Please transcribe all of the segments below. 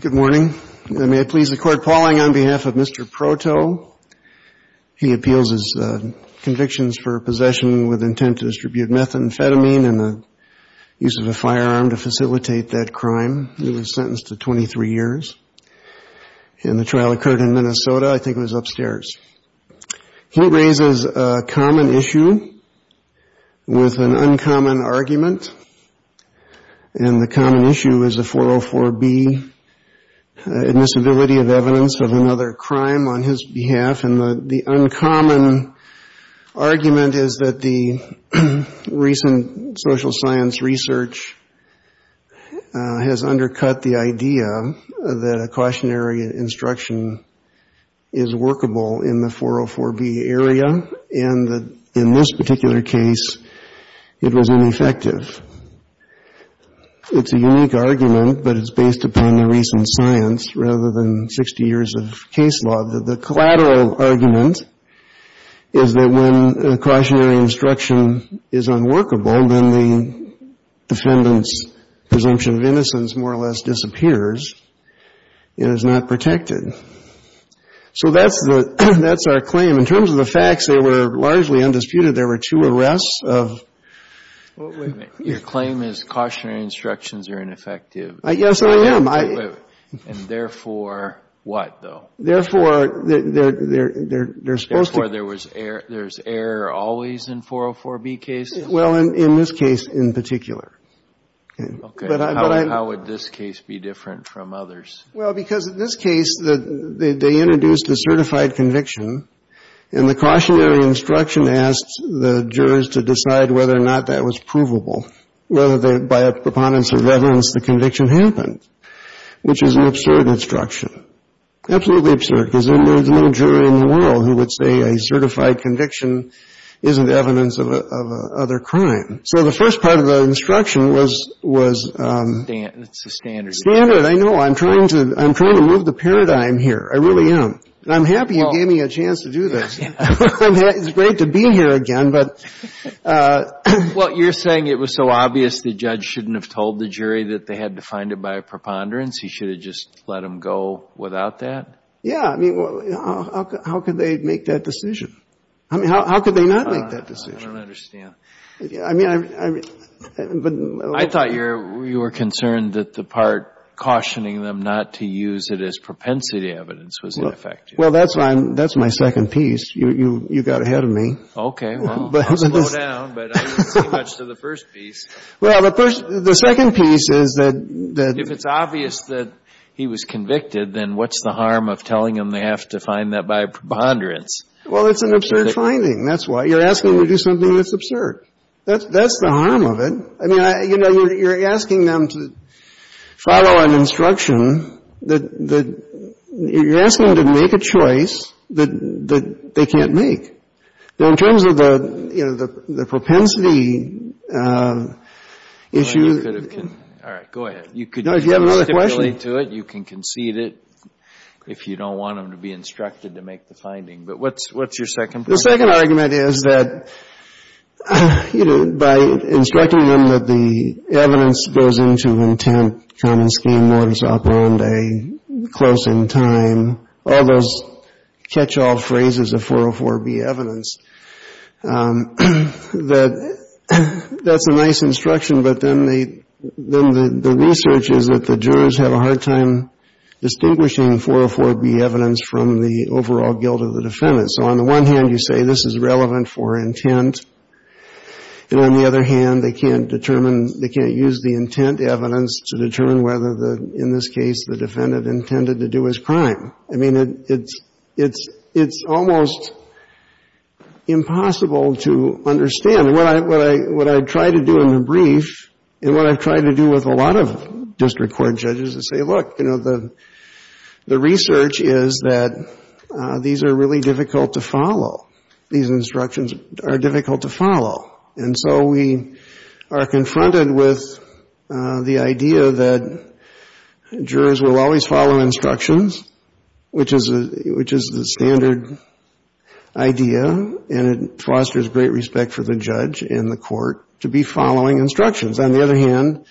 Good morning. I may please the Court, Pauling, on behalf of Mr. Proto. He appeals his convictions for possession with intent to distribute methamphetamine and the use of a firearm to facilitate that crime. He was sentenced to 23 years, and the trial occurred in Minnesota. I think it was upstairs. He raises a common issue with an uncommon argument, and the common issue is the 404B admissibility of evidence of another crime on his behalf. And the uncommon argument is that the recent social science research has undercut the idea that a cautionary instruction is workable in the 404B area, and that in this particular case, it was ineffective. It's a unique argument, but it's based upon the recent science rather than 60 years of case law, that the collateral argument is that when a cautionary instruction is unworkable, then the defendant's presumption of innocence more or less disappears and is not protected. So that's our claim. In terms of the facts, they were largely undisputed. There were two arrests of — Wait a minute. Your claim is cautionary instructions are ineffective. Yes, I am. And therefore, what, though? Therefore, they're supposed to — Therefore, there's error always in 404B cases? Well, in this case in particular. Okay. How would this case be different from others? Well, because in this case, they introduced a certified conviction, and the cautionary instruction asked the jurors to decide whether or not that was provable, whether by a preponderance of evidence the conviction happened, which is an absurd instruction, absolutely absurd, because there's no jury in the world who would say a certified conviction isn't evidence of other crime. So the first part of the instruction was — It's a standard. It's a standard. I know. I'm trying to move the paradigm here. I really am. And I'm happy you gave me a chance to do this. It's great to be here again, but — Well, you're saying it was so obvious the judge shouldn't have told the jury that they had to find it by a preponderance? He should have just let them go without that? Yeah. I mean, how could they make that decision? I mean, how could they not make that decision? I don't understand. I mean, I'm — I thought you were concerned that the part cautioning them not to use it as propensity evidence was ineffective. Well, that's my second piece. You got ahead of me. Okay. Well, I'll slow down, but I didn't say much to the first piece. Well, the second piece is that — If it's obvious that he was convicted, then what's the harm of telling them they have to find that by preponderance? Well, it's an absurd finding. That's why. You're asking them to do something that's absurd. That's the harm of it. I mean, you know, you're asking them to follow an instruction that — you're asking them to make a choice that they can't make. Now, in terms of the, you know, the propensity issue — All right. Go ahead. No, if you have another question — You can concede it if you don't want them to be instructed to make the finding. But what's your second point? The second argument is that, you know, by instructing them that the evidence goes into intent, common scheme, mortis op rende, close in time, all those catch-all phrases of 404B evidence, that that's a nice instruction, but then the research is that the jurors have a hard time distinguishing 404B evidence from the overall guilt of the defendant. So on the one hand, you say this is relevant for intent, and on the other hand, they can't determine — they can't use the intent evidence to determine whether, in this case, the defendant intended to do his crime. I mean, it's almost impossible to understand. What I try to do in the brief and what I've tried to do with a lot of district court judges is say, look, you know, the research is that these are really difficult to follow. These instructions are difficult to follow. And so we are confronted with the idea that jurors will always follow instructions, which is the standard idea, and it fosters great respect for the judge and the court to be following instructions. On the other hand,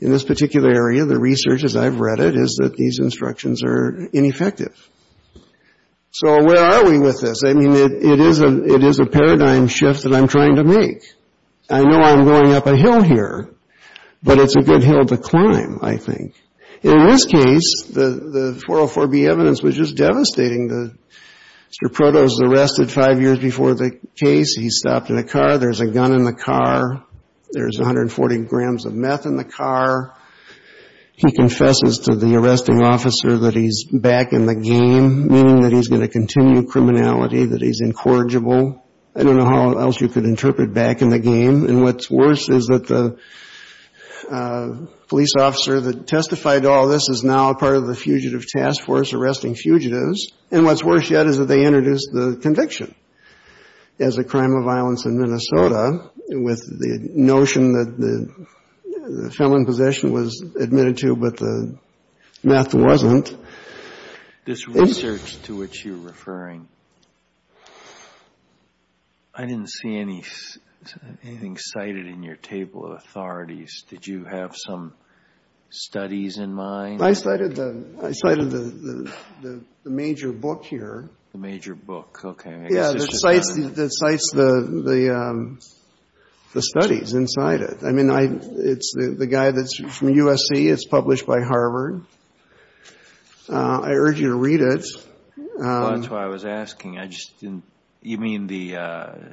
in this particular area, the research, as I've read it, is that these instructions are ineffective. So where are we with this? I mean, it is a paradigm shift that I'm trying to make. I know I'm going up a hill here, but it's a good hill to climb, I think. In this case, the 404B evidence was just devastating. Mr. Protos is arrested five years before the case. He's stopped in a car. There's a gun in the car. There's 140 grams of meth in the car. He confesses to the arresting officer that he's back in the game, meaning that he's going to continue criminality, that he's incorrigible. I don't know how else you could interpret back in the game. And what's worse is that the police officer that testified to all this is now part of the Fugitive Task Force arresting fugitives, and what's worse yet is that they introduced the conviction as a crime of violence in Minnesota with the notion that the felon in possession was admitted to, but the meth wasn't. This research to which you're referring, I didn't see anything cited in your table of authorities. Did you have some studies in mind? I cited the major book here. The major book. Okay. Yeah, that cites the studies inside it. I mean, it's the guy that's from USC. It's published by Harvard. I urge you to read it. That's what I was asking. I just didn't. You mean the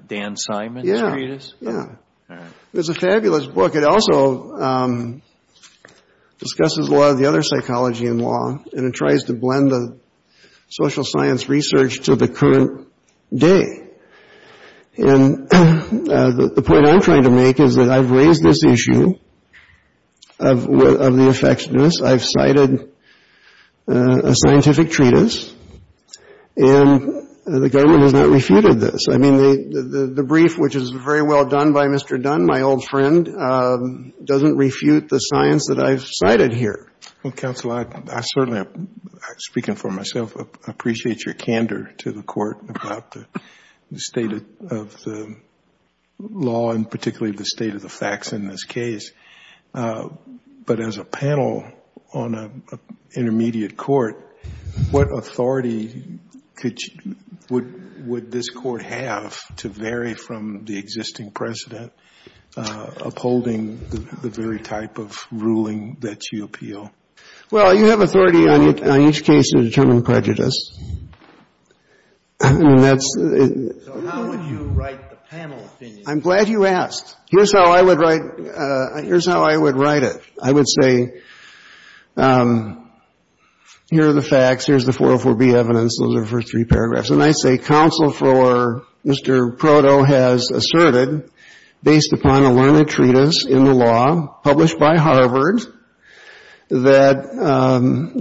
Dan Simon's treatise? Yeah, yeah. All right. It's a fabulous book. It also discusses a lot of the other psychology in law, and it tries to blend the social science research to the current day, and the point I'm trying to make is that I've raised this issue of the effectiveness. I've cited a scientific treatise, and the government has not refuted this. I mean, the brief, which is very well done by Mr. Dunn, my old friend, doesn't refute the science that I've cited here. Well, counsel, I certainly, speaking for myself, appreciate your candor to the court about the state of the law, and particularly the state of the facts in this case. But as a panel on an intermediate court, what authority would this court have to vary from the existing president upholding the very type of ruling that you appeal? Well, you have authority on each case to determine prejudice. So how would you write the panel opinion? I'm glad you asked. Here's how I would write it. I would say, here are the facts, here's the 404B evidence, those are the first three paragraphs. And I say counsel for Mr. Proto has asserted, based upon a learned treatise in the law published by Harvard, that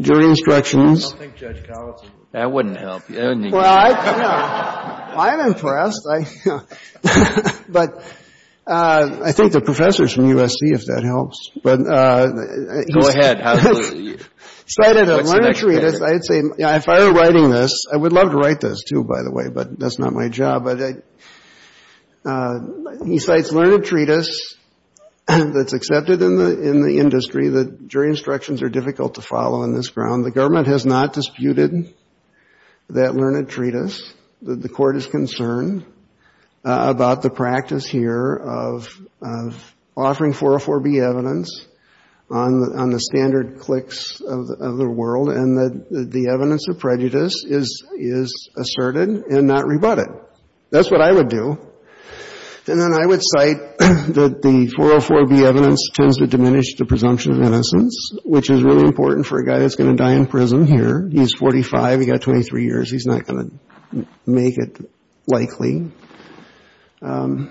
during instructions I don't think Judge Collins would agree. That wouldn't help. Well, I don't know. I'm impressed. But I think the professors from USC, if that helps. Go ahead. If I were writing this, I would love to write this, too, by the way. But that's not my job. But he cites learned treatise that's accepted in the industry, that during instructions are difficult to follow on this ground. The government has not disputed that learned treatise. The court is concerned about the practice here of offering 404B evidence on the standard cliques of the world and that the evidence of prejudice is asserted and not rebutted. That's what I would do. And then I would cite that the 404B evidence tends to diminish the presumption of innocence, which is really important for a guy that's going to die in prison here. He's 45. He's got 23 years. He's not going to make it likely. And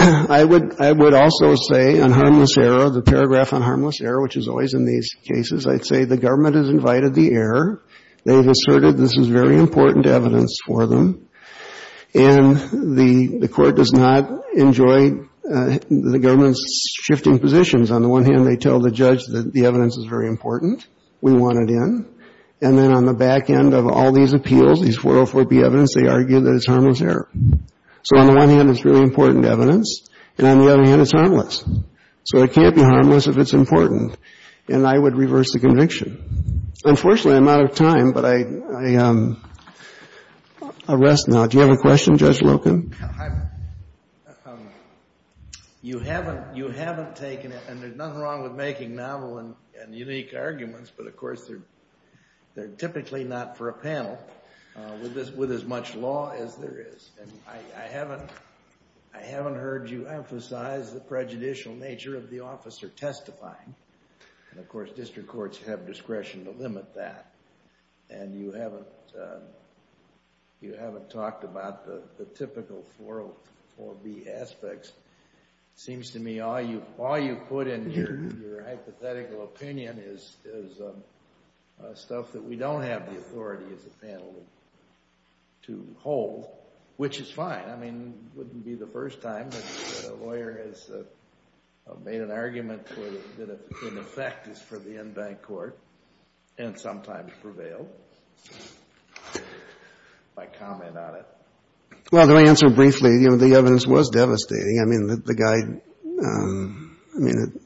I would also say on harmless error, the paragraph on harmless error, which is always in these cases, I'd say the government has invited the error. They've asserted this is very important evidence for them. And the court does not enjoy the government's shifting positions. On the one hand, they tell the judge that the evidence is very important. We want it in. And then on the back end of all these appeals, these 404B evidence, they argue that it's harmless error. So on the one hand, it's really important evidence. And on the other hand, it's harmless. So it can't be harmless if it's important. And I would reverse the conviction. Unfortunately, I'm out of time, but I'll rest now. Do you have a question, Judge Loken? You haven't taken it, and there's nothing wrong with making novel and unique arguments, but of course, they're typically not for a panel with as much law as there is. And I haven't heard you emphasize the prejudicial nature of the officer testifying. And of course, district courts have discretion to limit that. And you haven't talked about the typical 404B aspects. It seems to me all you've put in here, your hypothetical opinion, is stuff that we don't have the authority as a panel to hold, which is fine. I mean, it wouldn't be the first time that a lawyer has made an argument that in effect is for the in-bank court and sometimes prevailed by comment on it. Well, to answer briefly, the evidence was devastating. I mean, the guy, I mean,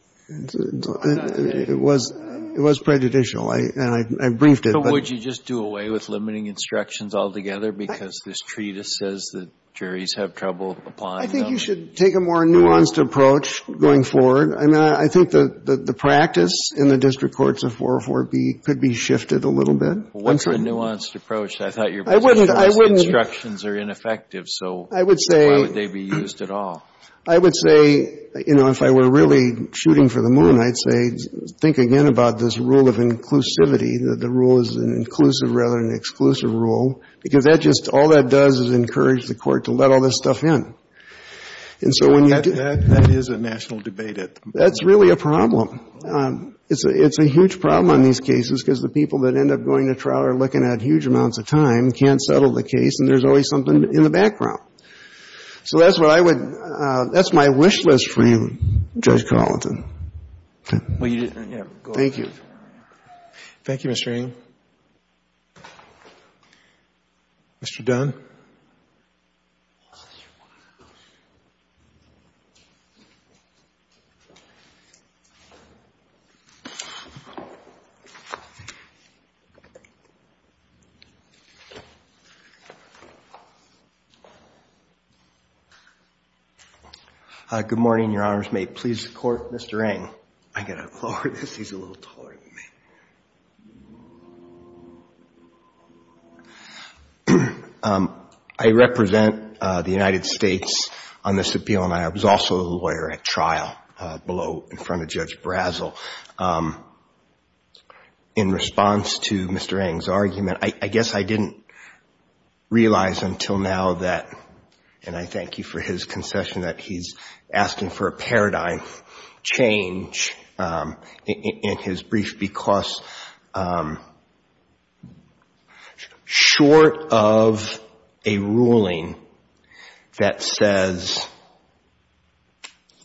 it was prejudicial, and I briefed it. But would you just do away with limiting instructions altogether because this treatise says that juries have trouble applying them? I think you should take a more nuanced approach going forward. I mean, I think the practice in the district courts of 404B could be shifted a little bit. What's the nuanced approach? I thought your position was instructions are ineffective, so why would they be used at all? I would say, you know, if I were really shooting for the moon, I'd say think again about this rule of inclusivity, that the rule is an inclusive rather than an exclusive rule, because that just, all that does is encourage the court to let all this stuff in. And so when you do that, that is a national debate at the moment. That's really a problem. It's a huge problem on these cases because the people that end up going to trial are looking at huge amounts of time, can't settle the case, and there's always something in the background. So that's what I would, that's my wish list for you, Judge Carleton. Thank you. Thank you, Mr. Ng. Mr. Dunn. Good morning, Your Honors. May it please the Court, Mr. Ng. I've got to lower this. He's a little taller than me. I represent the United States on this appeal, and I was also a lawyer at trial below in front of Judge Brazel. In response to Mr. Ng's argument, I guess I didn't realize until now that, and I thank you for his concession that he's asking for a paradigm change in his brief, because short of a ruling that says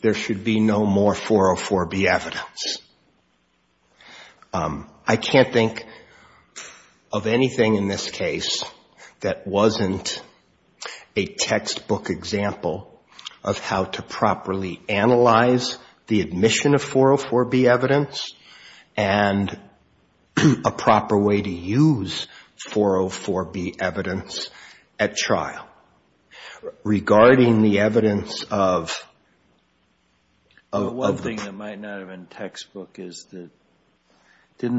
there should be no more 404B evidence, I can't think of anything in this case that wasn't a textbook example of how to properly analyze the admission of 404B evidence and a proper way to use 404B evidence at trial. Regarding the evidence of... Didn't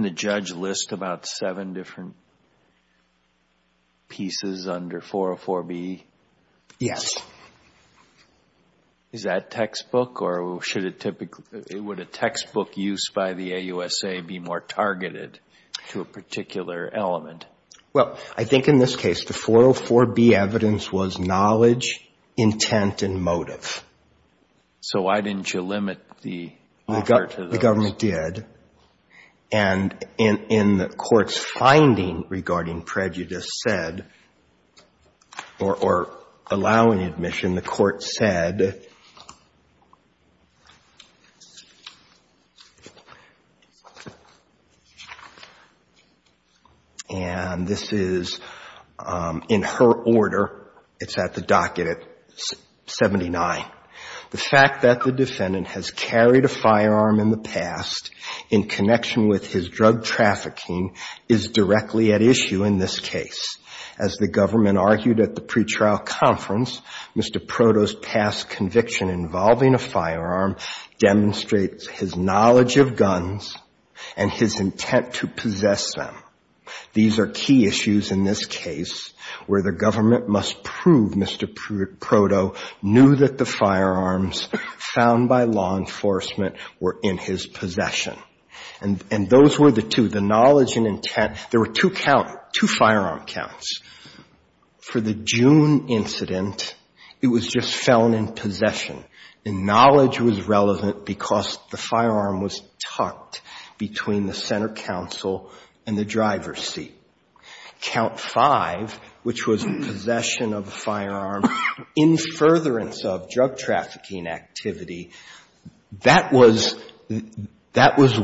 the judge list about seven different pieces under 404B? Yes. Is that textbook, or should it typically, would a textbook use by the AUSA be more targeted to a particular element? Well, I think in this case the 404B evidence was knowledge, intent, and motive. So why didn't you limit the offer to those? The government did, and in the court's finding regarding prejudice said, or allowing admission, the court said, and this is in her order, it's at the docket at 79. The fact that the defendant has carried a firearm in the past in connection with his drug trafficking is directly at issue in this case. As the government argued at the pretrial conference, Mr. Proto's past conviction involving a firearm demonstrates his knowledge of guns and his intent to possess them. These are key issues in this case where the government must prove Mr. Proto knew that the firearms found by law enforcement were in his possession. And those were the two, the knowledge and intent. There were two count, two firearm counts. For the June incident, it was just felon in possession, and knowledge was relevant because the firearm was tucked between the center counsel and the driver's seat. Count five, which was possession of a firearm in furtherance of drug trafficking activity, that was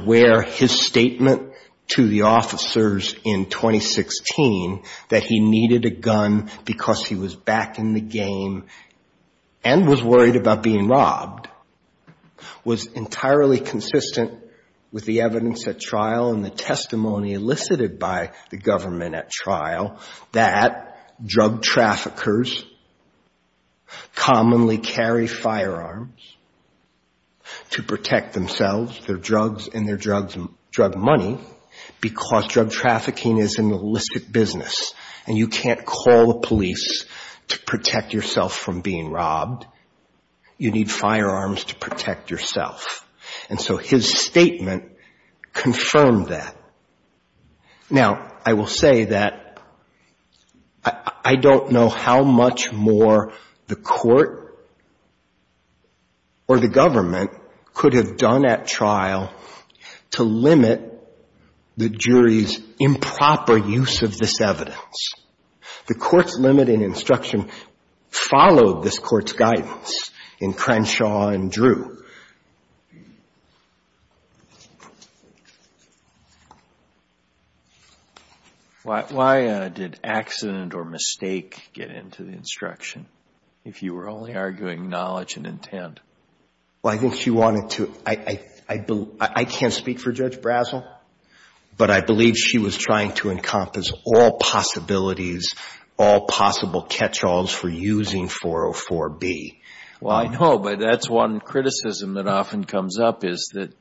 where his statement to the officers in 2016 that he needed a gun because he was back in the game and was worried about being robbed was entirely consistent with the evidence at trial and the testimony elicited by the government at trial that drug traffickers commonly carry firearms to protect themselves, their drugs, and their drug money because drug trafficking is an illicit business and you can't call the police to protect yourself from being robbed. You need firearms to protect yourself. And so his statement confirmed that. Now, I will say that I don't know how much more the court or the government could have done at trial to limit the jury's improper use of this evidence. The court's limiting instruction followed this court's guidance in Crenshaw and Drew. Why did accident or mistake get into the instruction, if you were only arguing knowledge and intent? Well, I think she wanted to, I can't speak for Judge Brazel, but I believe she was trying to encompass all possibilities, all possible catch-alls for using 404B. Well, I know, but that's one criticism that often comes up is that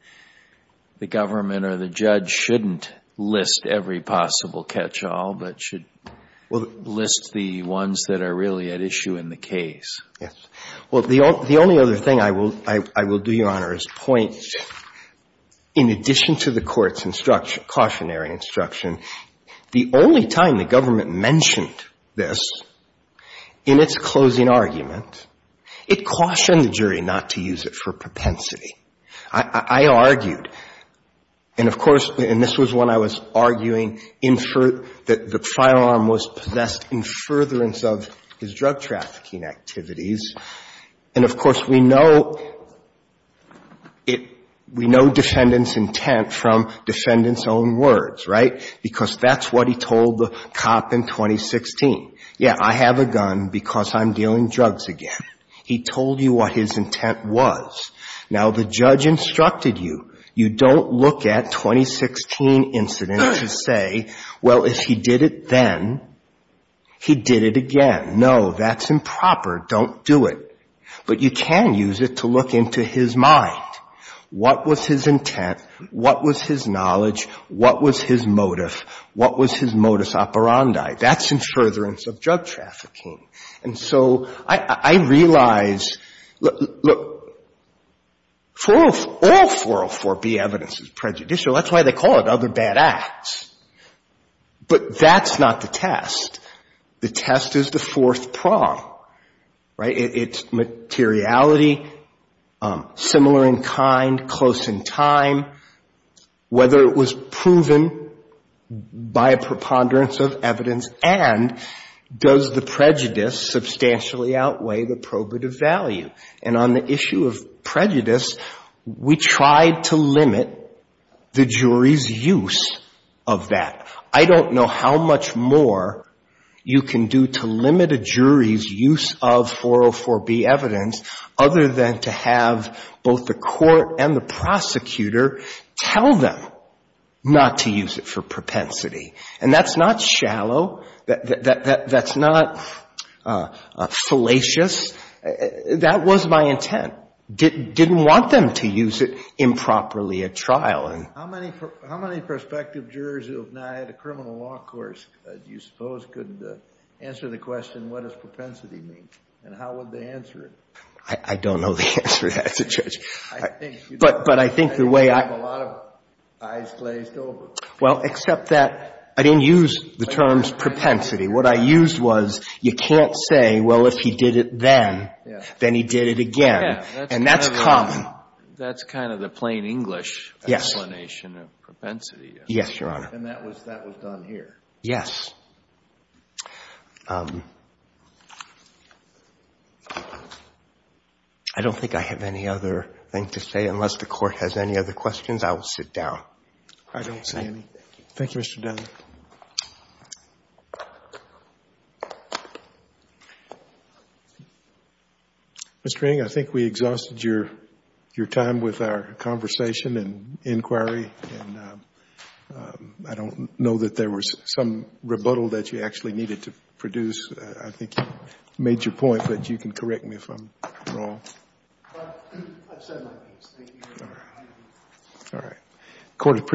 the government or the judge shouldn't list every possible catch-all, but should list the ones that are really at issue in the case. Yes. Well, the only other thing I will do, Your Honor, is point, in addition to the court's cautionary instruction, the only time the government mentioned this in its closing argument, it cautioned the jury not to use it for propensity. I argued, and of course, and this was when I was arguing that the firearm was possessed in furtherance of his drug trafficking activities. And of course, we know it, we know defendant's intent from defendant's own words, right? Because that's what he told the cop in 2016. Yeah, I have a gun because I'm dealing drugs again. He told you what his intent was. Now, the judge instructed you, you don't look at 2016 incidents to say, well, if he did it then, he did it again. No, that's improper. Don't do it. But you can use it to look into his mind. What was his intent? What was his knowledge? What was his motive? What was his modus operandi? That's in furtherance of drug trafficking. And so I realize, look, all 404B evidence is prejudicial. That's why they call it other bad acts. But that's not the test. The test is the fourth prong, right? It's materiality, similar in kind, close in time, whether it was proven by a preponderance of evidence and does the prejudice substantially outweigh the probative value. And on the issue of prejudice, we tried to limit the jury's use of that. I don't know how much more you can do to limit a jury's use of 404B evidence other than to have both the court and the prosecutor tell them not to use it for something shallow, that's not salacious. That was my intent. Didn't want them to use it improperly at trial. How many prospective jurors who have not had a criminal law course, do you suppose, could answer the question, what does propensity mean? And how would they answer it? I don't know the answer to that, Judge. But I think the way I... The way I would answer it is, in terms of propensity, what I used was, you can't say, well, if he did it then, then he did it again. And that's common. That's kind of the plain English explanation of propensity. Yes, Your Honor. And that was done here? Yes. I don't think I have any other thing to say, unless the Court has any other questions. I will sit down. I don't see anything. Thank you, Mr. Dunn. Thank you. Mr. King, I think we exhausted your time with our conversation and inquiry. And I don't know that there was some rebuttal that you actually needed to produce. I think you made your point, but you can correct me if I'm wrong. I've said my piece. Thank you, Your Honor. All right.